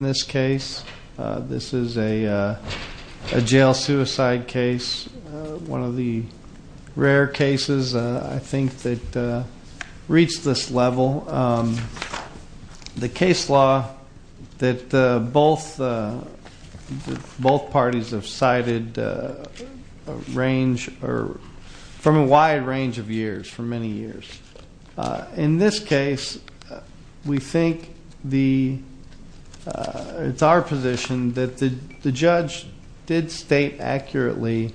In this case, this is a jail suicide case, one of the rare cases I think that reached this level. The case law that both parties have cited from a wide range of years, for many years. In this case, we think it's our position that the judge did state accurately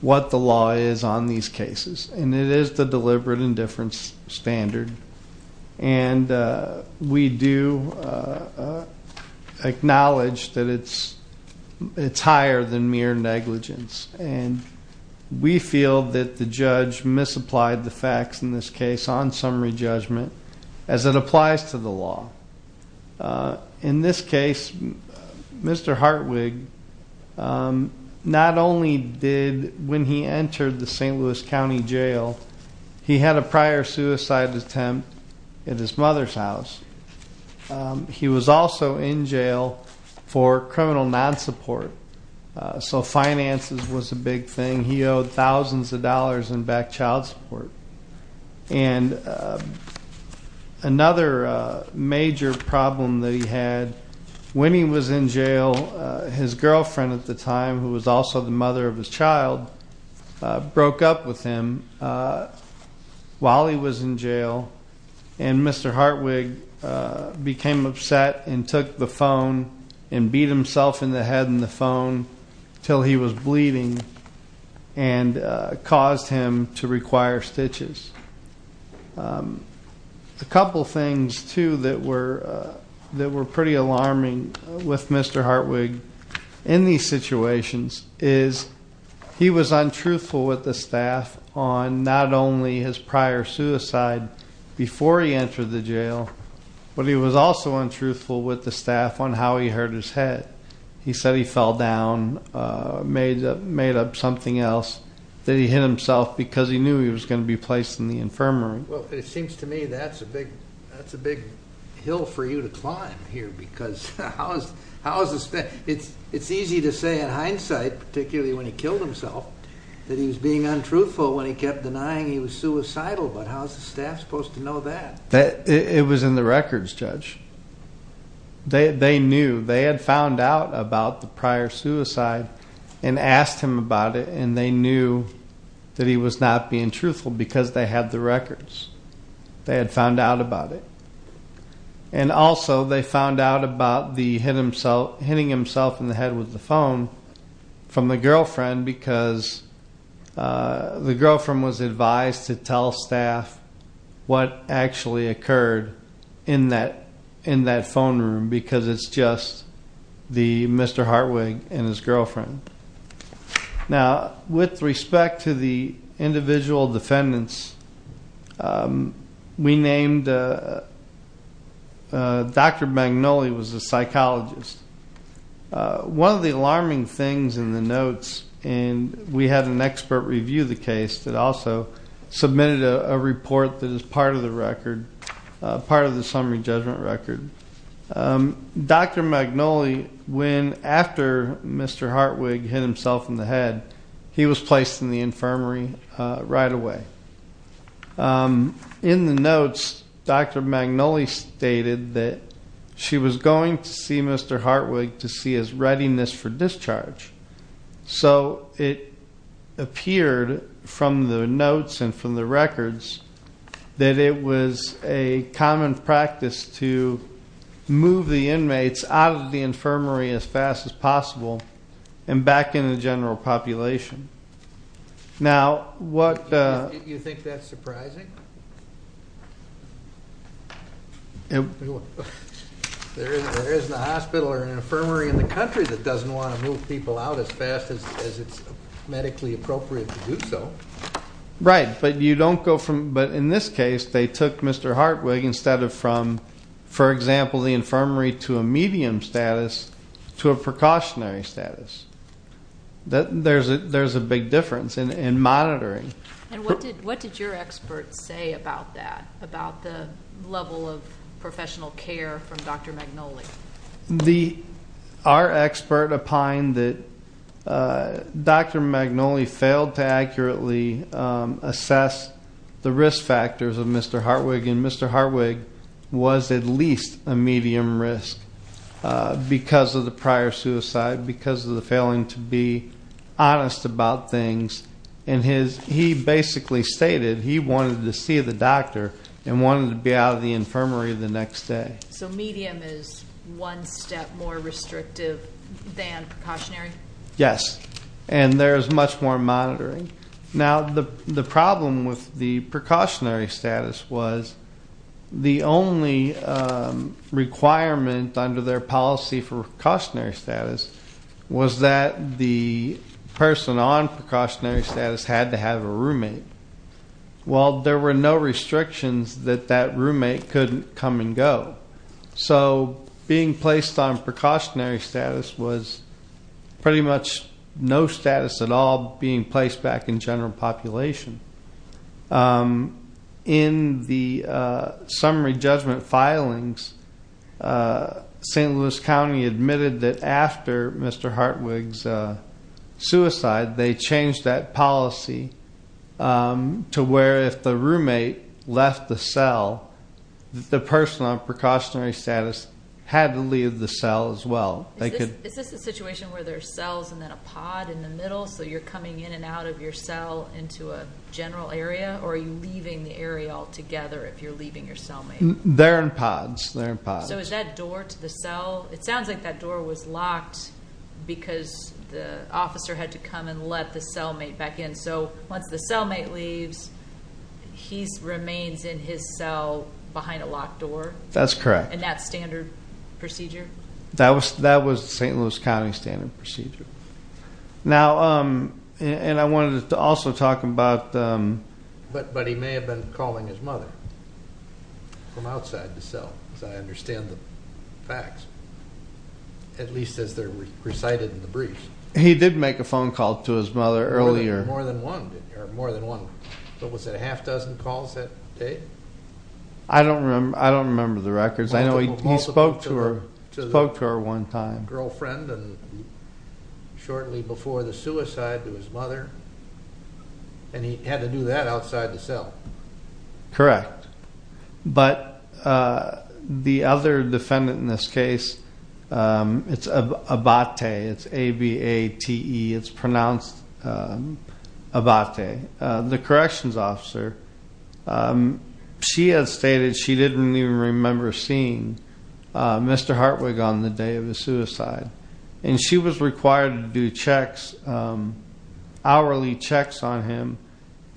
what the law is on these cases. And it is the deliberate indifference standard. And we do acknowledge that it's higher than mere negligence. And we feel that the judge misapplied the facts in this case on summary judgment as it applies to the law. In this case, Mr. Hartwig not only did, when he entered the St. Louis County Jail, he had a prior suicide attempt at his mother's house. He was also in jail for criminal non-support. So finances was a big thing. He owed thousands of dollars in back child support. And another major problem that he had, when he was in jail, his girlfriend at the time, who was also the mother of his child, broke up with him while he was in jail. And Mr. Hartwig became upset and took the phone and beat himself in the head in the phone until he was bleeding and caused him to require stitches. A couple things too that were pretty alarming with Mr. Hartwig in these situations is he was untruthful with the staff on not only his prior suicide before he entered the jail. But he was also untruthful with the staff on how he hurt his head. He said he fell down, made up something else, that he hit himself because he knew he was going to be placed in the infirmary. Well, it seems to me that's a big hill for you to climb here, because how is this? It's easy to say in hindsight, particularly when he killed himself, that he was being untruthful when he kept denying he was suicidal. But how's the staff supposed to know that? It was in the records, Judge. They knew, they had found out about the prior suicide and asked him about it. And they knew that he was not being truthful because they had the records. They had found out about it. And also they found out about the hitting himself in the head with the phone from the girlfriend because the girlfriend was advised to tell staff what actually occurred in that phone room, because it's just the Mr. Hartwig and his girlfriend. Now, with respect to the individual defendants, we named, Dr. Magnoli was a psychologist. One of the alarming things in the notes, and we had an expert review the case, that also submitted a report that is part of the summary judgment record. Dr. Magnoli, when after Mr. Hartwig hit himself in the head, he was placed in the infirmary right away. In the notes, Dr. Magnoli stated that she was going to see Mr. Hartwig to see his readiness for discharge. So it appeared from the notes and from the records that it was a common practice to move the inmates out of the infirmary as fast as possible and back into the general population. Now, what- You think that's surprising? There isn't a hospital or an infirmary in the country that doesn't want to move people out as fast as it's medically appropriate to do so. Right, but you don't go from, but in this case, they took Mr. Hartwig instead of from, for example, the infirmary to a medium status, to a precautionary status. There's a big difference in monitoring. And what did your expert say about that, about the level of professional care from Dr. Magnoli? The, our expert opined that Dr. Magnoli failed to accurately assess the risk factors of Mr. Hartwig. And Mr. Hartwig was at least a medium risk because of the prior suicide, because of the failing to be honest about things. And his, he basically stated he wanted to see the doctor and wanted to be out of the infirmary the next day. So medium is one step more restrictive than precautionary? Yes, and there's much more monitoring. Now, the problem with the precautionary status was the only requirement under their policy for precautionary status had to have a roommate. Well, there were no restrictions that that roommate couldn't come and go. So being placed on precautionary status was pretty much no status at all being placed back in general population. In the summary judgment filings, St. Louis County admitted that after Mr. Hartwig's suicide, they changed that policy to where if the roommate left the cell, the person on precautionary status had to leave the cell as well. Is this a situation where there are cells and then a pod in the middle? So you're coming in and out of your cell into a general area? Or are you leaving the area altogether if you're leaving your cellmate? They're in pods, they're in pods. So is that door to the cell, it sounds like that door was locked because the officer had to come and let the cellmate back in. So once the cellmate leaves, he remains in his cell behind a locked door? That's correct. In that standard procedure? That was the St. Louis County standard procedure. Now, and I wanted to also talk about- But he may have been calling his mother from outside the cell, as I understand the facts. At least as they're recited in the briefs. He did make a phone call to his mother earlier. More than one, didn't he? Or more than one. What was it, a half dozen calls that day? I don't remember the records. I know he spoke to her one time. To the girlfriend and shortly before the suicide to his mother. And he had to do that outside the cell. Correct. But the other defendant in this case, it's Abate. It's A-B-A-T-E, it's pronounced Abate. The corrections officer, she had stated she didn't even remember seeing Mr. Hartwig on the day of the suicide. And she was required to do checks, hourly checks on him.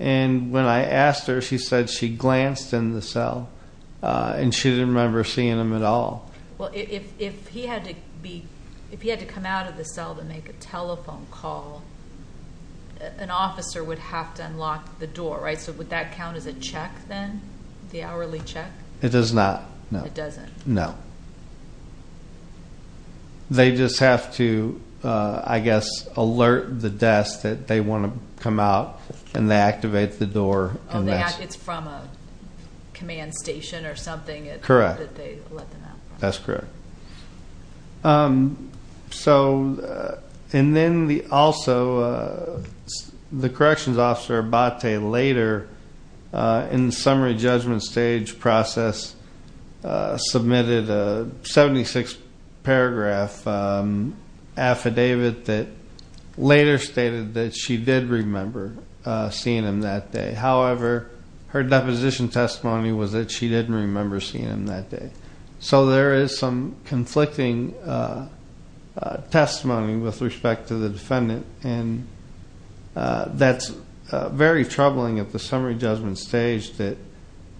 And when I asked her, she said she glanced in the cell and she didn't remember seeing him at all. Well, if he had to come out of the cell to make a telephone call, an officer would have to unlock the door, right? So would that count as a check then, the hourly check? It does not, no. It doesn't? No. They just have to, I guess, alert the desk that they want to come out and they activate the door. Oh, it's from a command station or something? Correct. That they let them out from. That's correct. And then also, the corrections officer, Abate, later in the summary judgment stage process, submitted a 76-paragraph affidavit that later stated that she did remember seeing him that day. However, her deposition testimony was that she didn't remember seeing him that day. So there is some conflicting testimony with respect to the defendant, and that's very troubling at the summary judgment stage that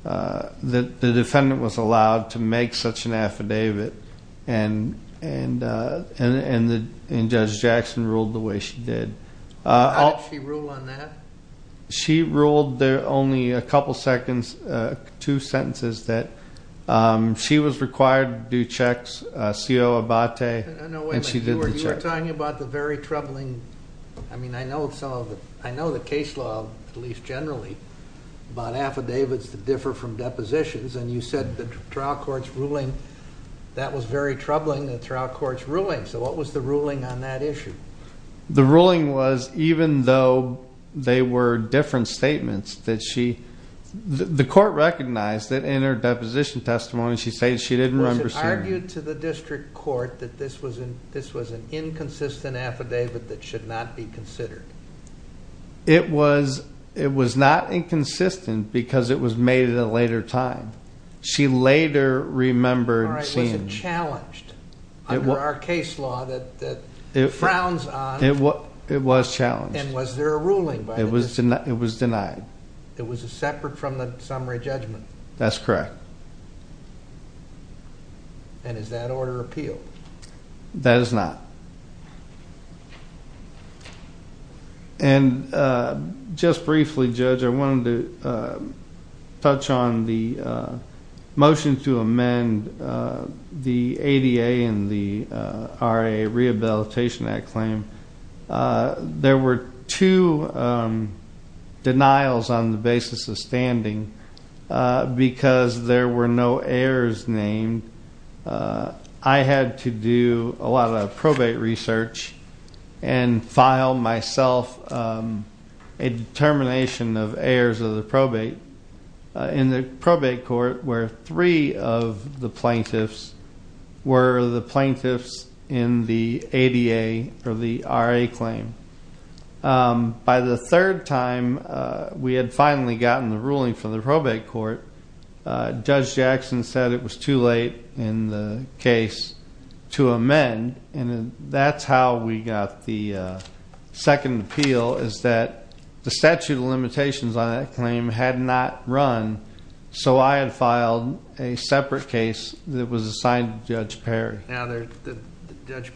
the defendant was allowed to make such an affidavit and Judge Jackson ruled the way she did. How did she rule on that? She ruled there only a couple of seconds, two sentences that she was required to do checks, CO Abate, and she did the check. No, wait a minute. You were talking about the very troubling, I mean, I know the case law, at least generally, about affidavits that differ from depositions, and you said the trial court's ruling, that was very troubling, the trial court's ruling. So what was the ruling on that issue? The ruling was, even though they were different statements, that she, the court recognized that in her deposition testimony she said she didn't remember seeing him. Was it argued to the district court that this was an inconsistent affidavit that should not be considered? It was not inconsistent because it was made at a later time. She later remembered seeing him. It was challenged under our case law that frowns on. It was challenged. And was there a ruling by the district court? It was denied. It was separate from the summary judgment? That's correct. And is that order appealed? That is not. And just briefly, Judge, I wanted to touch on the motion to amend the ADA and the R.A. Rehabilitation Act claim. There were two denials on the basis of standing because there were no heirs named. I had to do a lot of probate research and file myself a determination of heirs of the probate in the probate court where three of the plaintiffs were the plaintiffs in the ADA or the R.A. claim. By the third time we had finally gotten the ruling from the probate court, Judge Jackson said it was too late in the case to amend, and that's how we got the second appeal is that the statute of limitations on that claim had not run, so I had filed a separate case that was assigned to Judge Perry. Now, Judge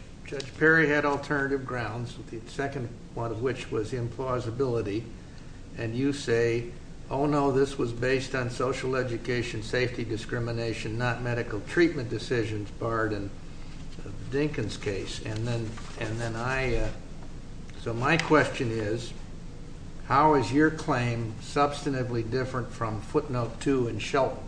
Perry had alternative grounds, the second one of which was implausibility, and you say, oh, no, this was based on social education, safety discrimination, not medical treatment decisions barred in Dinkin's case. And then I, so my question is, how is your claim substantively different from footnote two in Shelton?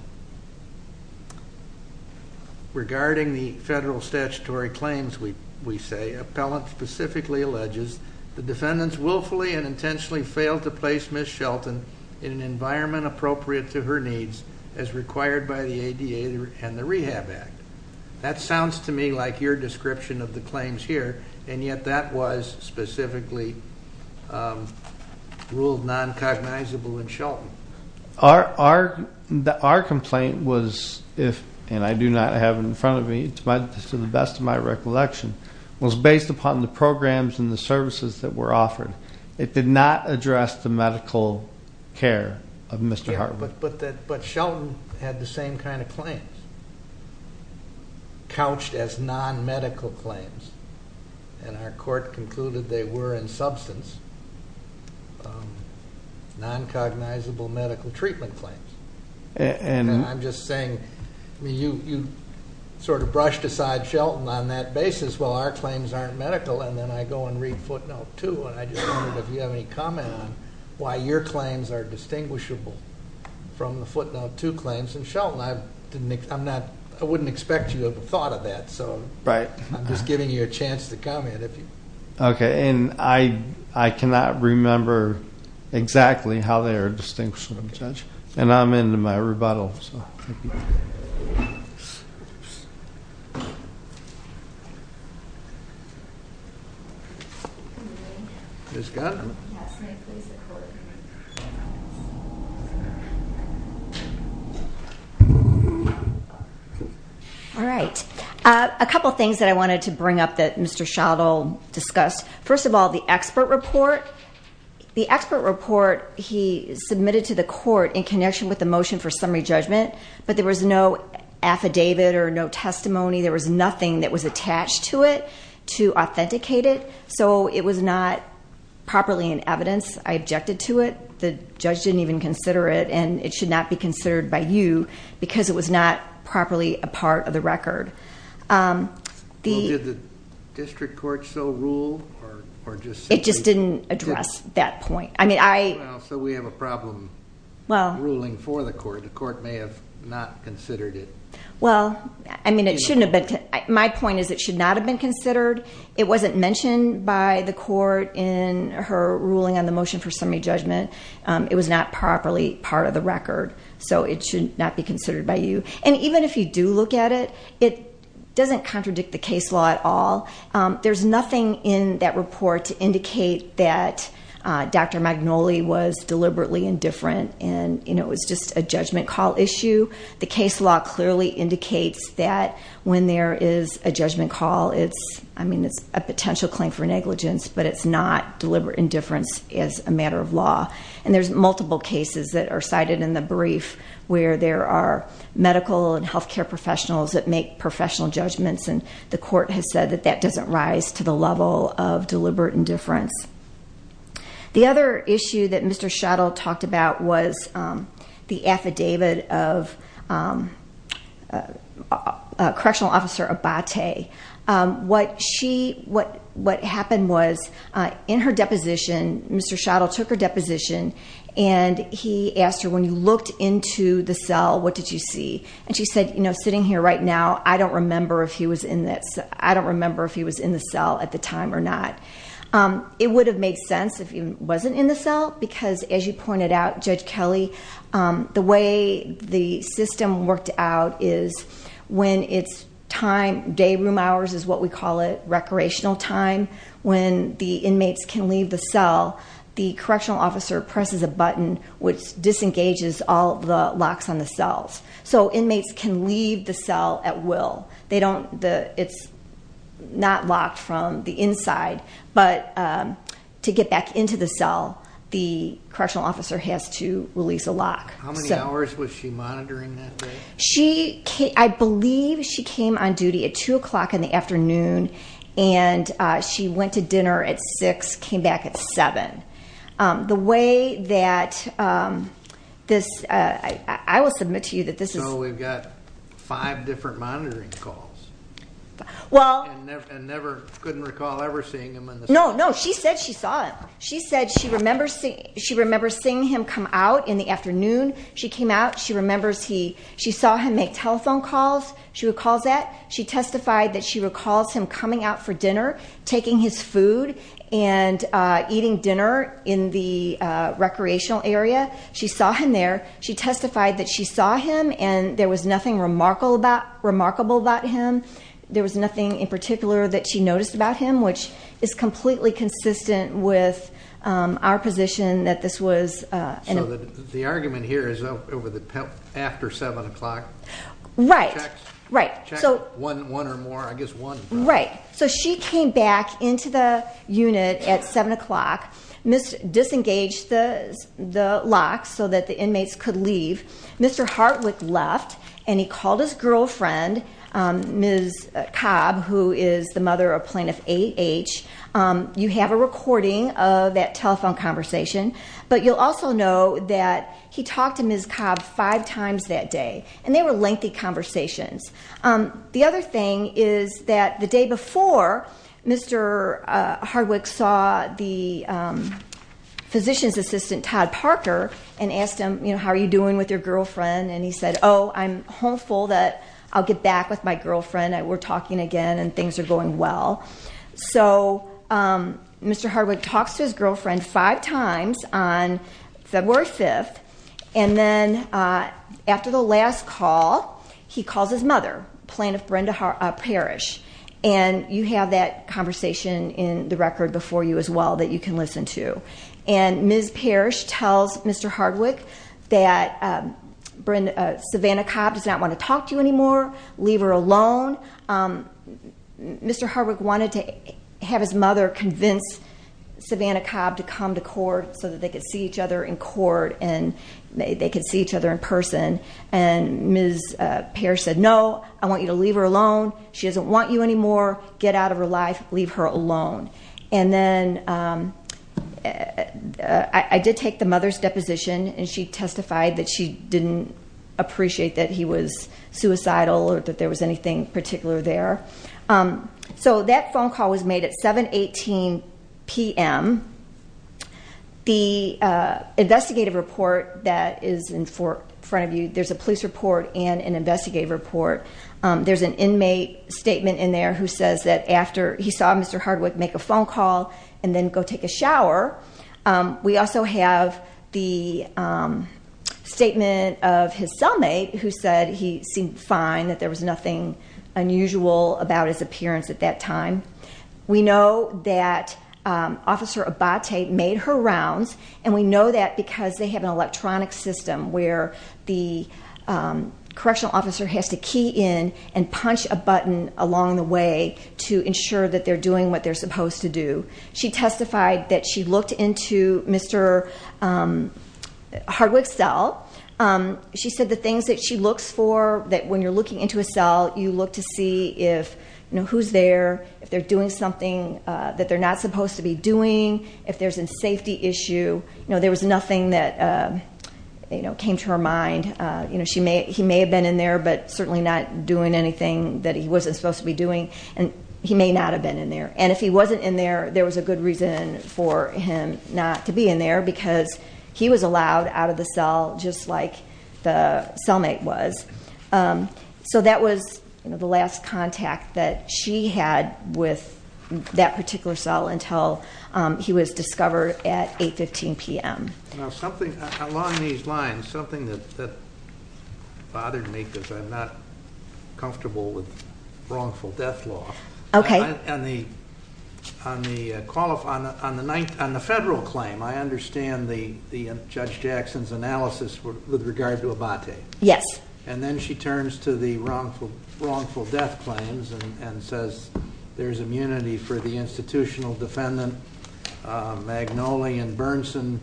Regarding the federal statutory claims, we say, the appellant specifically alleges the defendants willfully and intentionally failed to place Ms. Shelton in an environment appropriate to her needs as required by the ADA and the Rehab Act. That sounds to me like your description of the claims here, and yet that was specifically ruled noncognizable in Shelton. Our complaint was if, and I do not have it in front of me to the best of my recollection, was based upon the programs and the services that were offered. It did not address the medical care of Mr. Harbert. Yeah, but Shelton had the same kind of claims, couched as nonmedical claims, and our court concluded they were, in substance, noncognizable medical treatment claims. I'm just saying, you sort of brushed aside Shelton on that basis. Well, our claims aren't medical, and then I go and read footnote two, and I just wondered if you have any comment on why your claims are distinguishable from the footnote two claims in Shelton. I wouldn't expect you to have thought of that, so I'm just giving you a chance to comment. Okay, and I cannot remember exactly how they are distinguishable, Judge. And I'm in my rebuttal, so thank you. All right. A couple things that I wanted to bring up that Mr. Schott will discuss. First of all, the expert report. The expert report he submitted to the court in connection with the motion for summary judgment, but there was no affidavit or no testimony. There was nothing that was attached to it to authenticate it, so it was not properly in evidence. I objected to it. The judge didn't even consider it, and it should not be considered by you because it was not properly a part of the record. Did the district court so rule? It just didn't address that point. So we have a problem ruling for the court. The court may have not considered it. Well, I mean, it shouldn't have been. My point is it should not have been considered. It wasn't mentioned by the court in her ruling on the motion for summary judgment. It was not properly part of the record, so it should not be considered by you. And even if you do look at it, it doesn't contradict the case law at all. There's nothing in that report to indicate that Dr. Magnoli was deliberately indifferent and it was just a judgment call issue. The case law clearly indicates that when there is a judgment call, it's a potential claim for negligence, but it's not deliberate indifference as a matter of law. And there's multiple cases that are cited in the brief where there are medical and health care professionals that make professional judgments, and the court has said that that doesn't rise to the level of deliberate indifference. The other issue that Mr. Schottel talked about was the affidavit of Correctional Officer Abate. What happened was in her deposition, Mr. Schottel took her deposition, and he asked her, when you looked into the cell, what did you see? And she said, you know, sitting here right now, I don't remember if he was in the cell at the time or not. It would have made sense if he wasn't in the cell because, as you pointed out, Judge Kelly, the way the system worked out is when it's time, day room hours is what we call it, recreational time, when the inmates can leave the cell, the Correctional Officer presses a button which disengages all the locks on the cells. So inmates can leave the cell at will. It's not locked from the inside, but to get back into the cell, the Correctional Officer has to release a lock. How many hours was she monitoring that day? I believe she came on duty at 2 o'clock in the afternoon, and she went to dinner at 6, came back at 7. The way that this, I will submit to you that this is. So we've got five different monitoring calls. Well. And never, couldn't recall ever seeing him in the cell. No, no, she said she saw him. She said she remembers seeing him come out in the afternoon. She came out, she remembers he, she saw him make telephone calls, she recalls that. She testified that she recalls him coming out for dinner, taking his food, and eating dinner in the recreational area. She saw him there. She testified that she saw him, and there was nothing remarkable about him. There was nothing in particular that she noticed about him, which is completely consistent with our position that this was. So the argument here is over the, after 7 o'clock. Right. Checks. Right. Check one or more, I guess one. Right. So she came back into the unit at 7 o'clock, disengaged the locks so that the inmates could leave. Mr. Hartwick left, and he called his girlfriend, Ms. Cobb, who is the mother of Plaintiff A.H. You have a recording of that telephone conversation, but you'll also know that he talked to Ms. Cobb five times that day. And they were lengthy conversations. The other thing is that the day before, Mr. Hartwick saw the physician's assistant, Todd Parker, and asked him, you know, how are you doing with your girlfriend? And he said, oh, I'm hopeful that I'll get back with my girlfriend. We're talking again, and things are going well. So Mr. Hartwick talks to his girlfriend five times on February 5th, and then after the last call, he calls his mother, Plaintiff Brenda Parrish. And you have that conversation in the record before you as well that you can listen to. And Ms. Parrish tells Mr. Hartwick that Savannah Cobb does not want to talk to you anymore. Leave her alone. Mr. Hartwick wanted to have his mother convince Savannah Cobb to come to court so that they could see each other in court and they could see each other in person. And Ms. Parrish said, no, I want you to leave her alone. She doesn't want you anymore. Get out of her life. Leave her alone. And then I did take the mother's deposition, and she testified that she didn't appreciate that he was suicidal or that there was anything particular there. So that phone call was made at 7.18 p.m. The investigative report that is in front of you, there's a police report and an investigative report. There's an inmate statement in there who says that after he saw Mr. Hartwick make a phone call and then go take a shower, we also have the statement of his cellmate who said he seemed fine, that there was nothing unusual about his appearance at that time. We know that Officer Abate made her rounds, and we know that because they have an electronic system where the correctional officer has to key in and punch a button along the way to ensure that they're doing what they're supposed to do. She testified that she looked into Mr. Hartwick's cell. She said the things that she looks for, that when you're looking into a cell, you look to see if who's there, if they're doing something that they're not supposed to be doing, if there's a safety issue. There was nothing that came to her mind. He may have been in there but certainly not doing anything that he wasn't supposed to be doing, and he may not have been in there. And if he wasn't in there, there was a good reason for him not to be in there because he was allowed out of the cell just like the cellmate was. So that was the last contact that she had with that particular cell until he was discovered at 8.15 p.m. Now something along these lines, something that bothered me because I'm not comfortable with wrongful death law. Okay. On the federal claim, I understand Judge Jackson's analysis with regard to Abate. Yes. And then she turns to the wrongful death claims and says there's immunity for the institutional defendant, Magnoli and Bernson,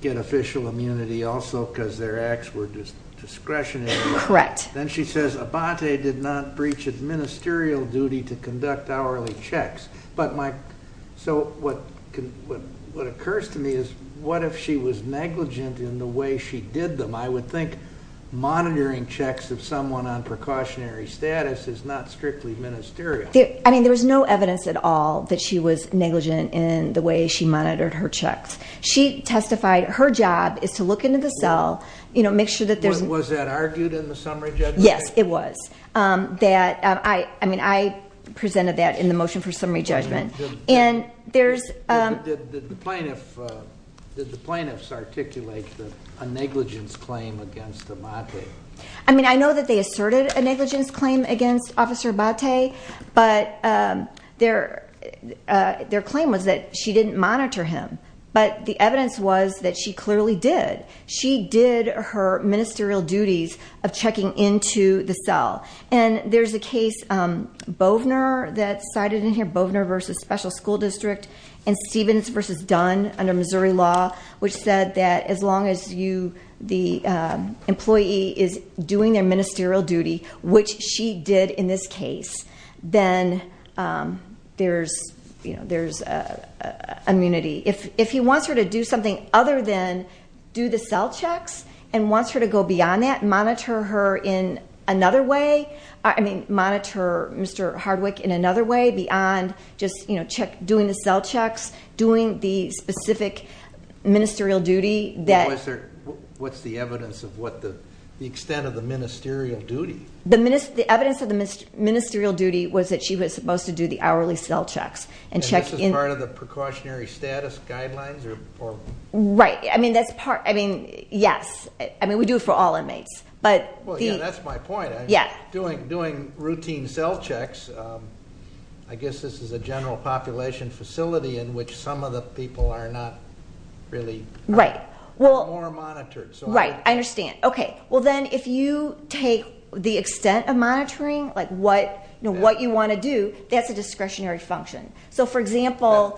get official immunity also because their acts were discretionary. Correct. Then she says Abate did not breach administerial duty to conduct hourly checks. So what occurs to me is what if she was negligent in the way she did them? I would think monitoring checks of someone on precautionary status is not strictly ministerial. I mean there was no evidence at all that she was negligent in the way she monitored her checks. She testified her job is to look into the cell, you know, make sure that there's Was that argued in the summary judgment? Yes, it was. I mean I presented that in the motion for summary judgment. Did the plaintiffs articulate a negligence claim against Abate? I mean I know that they asserted a negligence claim against Officer Abate, but their claim was that she didn't monitor him. But the evidence was that she clearly did. She did her ministerial duties of checking into the cell. And there's a case, Bovner that's cited in here, Bovner v. Special School District and Stevens v. Dunn under Missouri law, which said that as long as the employee is doing their ministerial duty, which she did in this case, then there's immunity. If he wants her to do something other than do the cell checks and wants her to go beyond that and monitor her in another way, I mean monitor Mr. Hardwick in another way beyond just doing the cell checks, doing the specific ministerial duty. What's the evidence of the extent of the ministerial duty? The evidence of the ministerial duty was that she was supposed to do the hourly cell checks. And this is part of the precautionary status guidelines? Right. I mean, yes. I mean we do it for all inmates. Well, yeah, that's my point. Doing routine cell checks, I guess this is a general population facility in which some of the people are not really more monitored. Right. I understand. Okay, well then if you take the extent of monitoring, like what you want to do, that's a discretionary function. So, for example,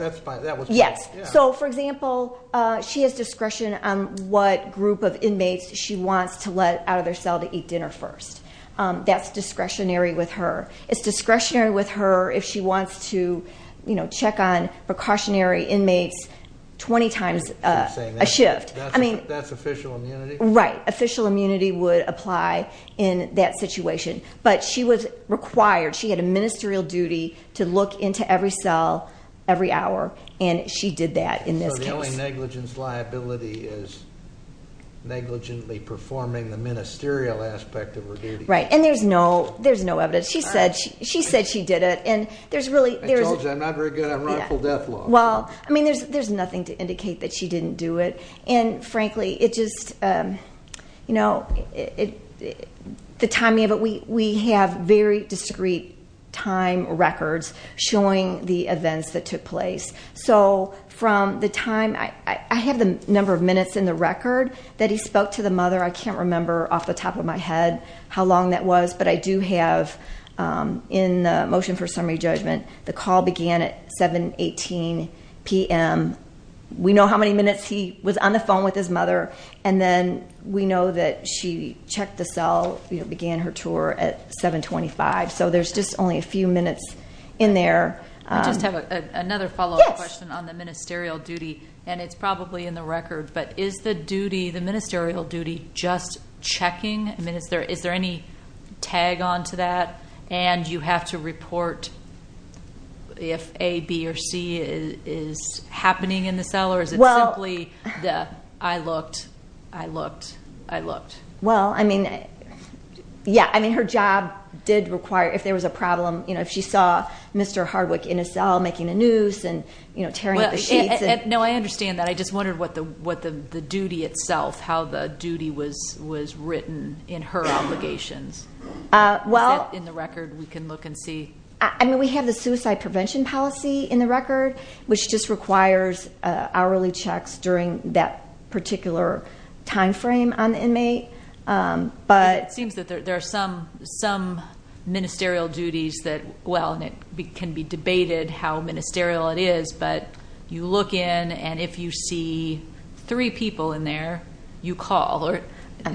she has discretion on what group of inmates she wants to let out of their cell to eat dinner first. That's discretionary with her. It's discretionary with her if she wants to check on precautionary inmates 20 times a shift. That's official immunity? Right. Official immunity would apply in that situation. But she was required, she had a ministerial duty to look into every cell every hour, and she did that in this case. So the only negligence liability is negligently performing the ministerial aspect of her duty. Right. And there's no evidence. She said she did it. I told you I'm not very good on rightful death law. Well, I mean, there's nothing to indicate that she didn't do it. And, frankly, it just, you know, the timing of it, we have very discrete time records showing the events that took place. So from the time, I have the number of minutes in the record that he spoke to the mother. I can't remember off the top of my head how long that was, but I do have in the motion for summary judgment the call began at 7.18 p.m. We know how many minutes he was on the phone with his mother, and then we know that she checked the cell, began her tour at 7.25. So there's just only a few minutes in there. I just have another follow-up question on the ministerial duty, and it's probably in the record, but is the duty, the ministerial duty, just checking? I mean, is there any tag on to that? And you have to report if A, B, or C is happening in the cell, or is it simply the I looked, I looked, I looked? Well, I mean, yeah. I mean, her job did require, if there was a problem, you know, if she saw Mr. Hardwick in a cell making a noose and, you know, tearing up the sheets. No, I understand that. I just wondered what the duty itself, how the duty was written in her obligations. Is that in the record we can look and see? I mean, we have the suicide prevention policy in the record, which just requires hourly checks during that particular time frame on the inmate. It seems that there are some ministerial duties that, well, and it can be debated how ministerial it is, but you look in, and if you see three people in there, you call,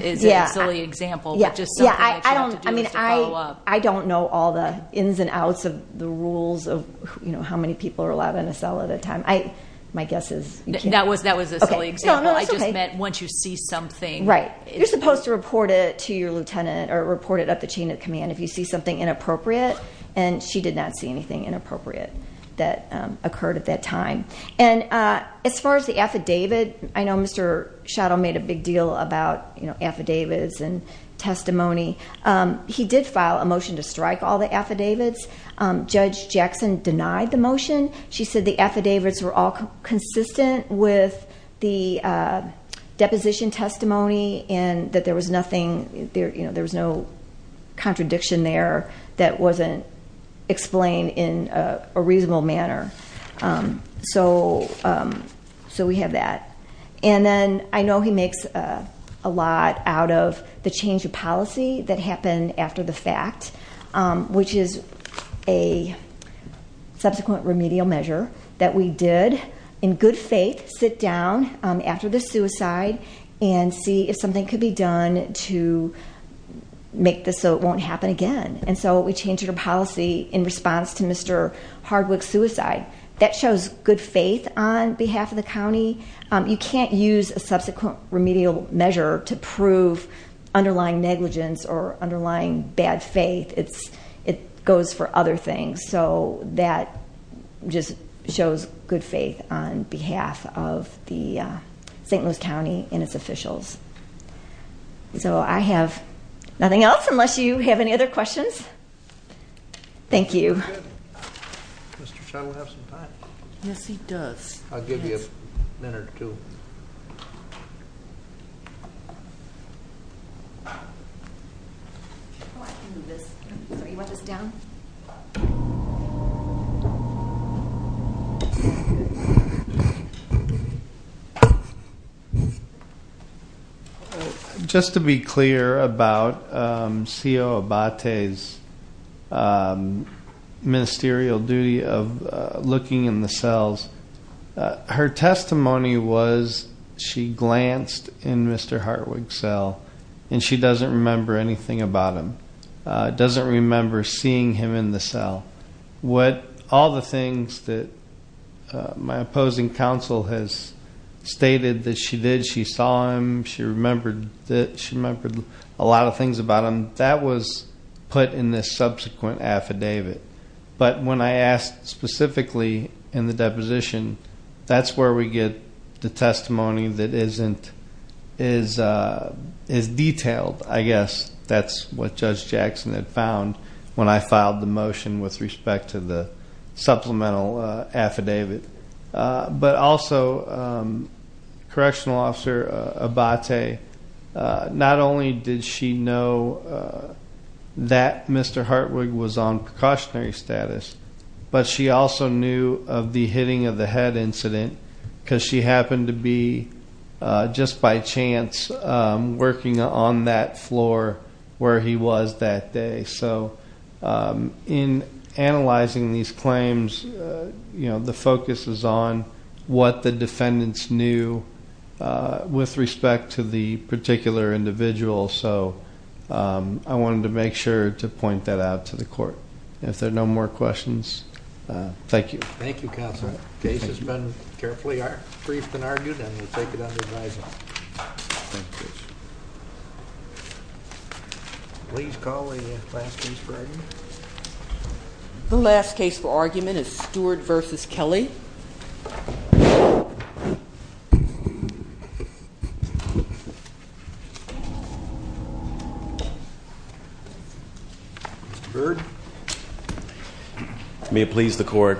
is a silly example. Yeah, I don't know all the ins and outs of the rules of, you know, how many people are allowed in a cell at a time. My guess is you can't. That was a silly example. I just meant once you see something. Right. You're supposed to report it to your lieutenant or report it up the chain of command if you see something inappropriate, and she did not see anything inappropriate that occurred at that time. And as far as the affidavit, I know Mr. Schadl made a big deal about affidavits and testimony. He did file a motion to strike all the affidavits. Judge Jackson denied the motion. She said the affidavits were all consistent with the deposition testimony and that there was nothing, you know, there was no contradiction there that wasn't explained in a reasonable manner. So we have that. And then I know he makes a lot out of the change of policy that happened after the fact, which is a subsequent remedial measure that we did in good faith sit down after the suicide and see if something could be done to make this so it won't happen again. And so we changed our policy in response to Mr. Hardwick's suicide. You can't use a subsequent remedial measure to prove underlying negligence or underlying bad faith. It goes for other things. So that just shows good faith on behalf of the St. Louis County and its officials. So I have nothing else unless you have any other questions. Thank you. Mr. Schadl will have some time. Yes, he does. I'll give you a minute or two. Oh, I can move this. Sorry, you want this down? Just to be clear about C.O. Abate's ministerial duty of looking in the cells, her testimony was she glanced in Mr. Hardwick's cell and she doesn't remember anything about him, doesn't remember seeing him in the cell. All the things that my opposing counsel has stated that she did, she saw him, she remembered a lot of things about him, that was put in this subsequent affidavit. But when I asked specifically in the deposition, that's where we get the testimony that isn't as detailed. I guess that's what Judge Jackson had found when I filed the motion with respect to the supplemental affidavit. But also, Correctional Officer Abate, not only did she know that Mr. Hardwick was on precautionary status, but she also knew of the hitting of the head incident because she happened to be, just by chance, working on that floor where he was that day. So in analyzing these claims, the focus is on what the defendants knew with respect to the particular individual. So I wanted to make sure to point that out to the court. If there are no more questions, thank you. Thank you, counsel. The case has been carefully briefed and argued, and we'll take it under advisement. Thank you. Please call the last case for argument. The last case for argument is Stewart v. Kelly. Mr. Byrd. May it please the court.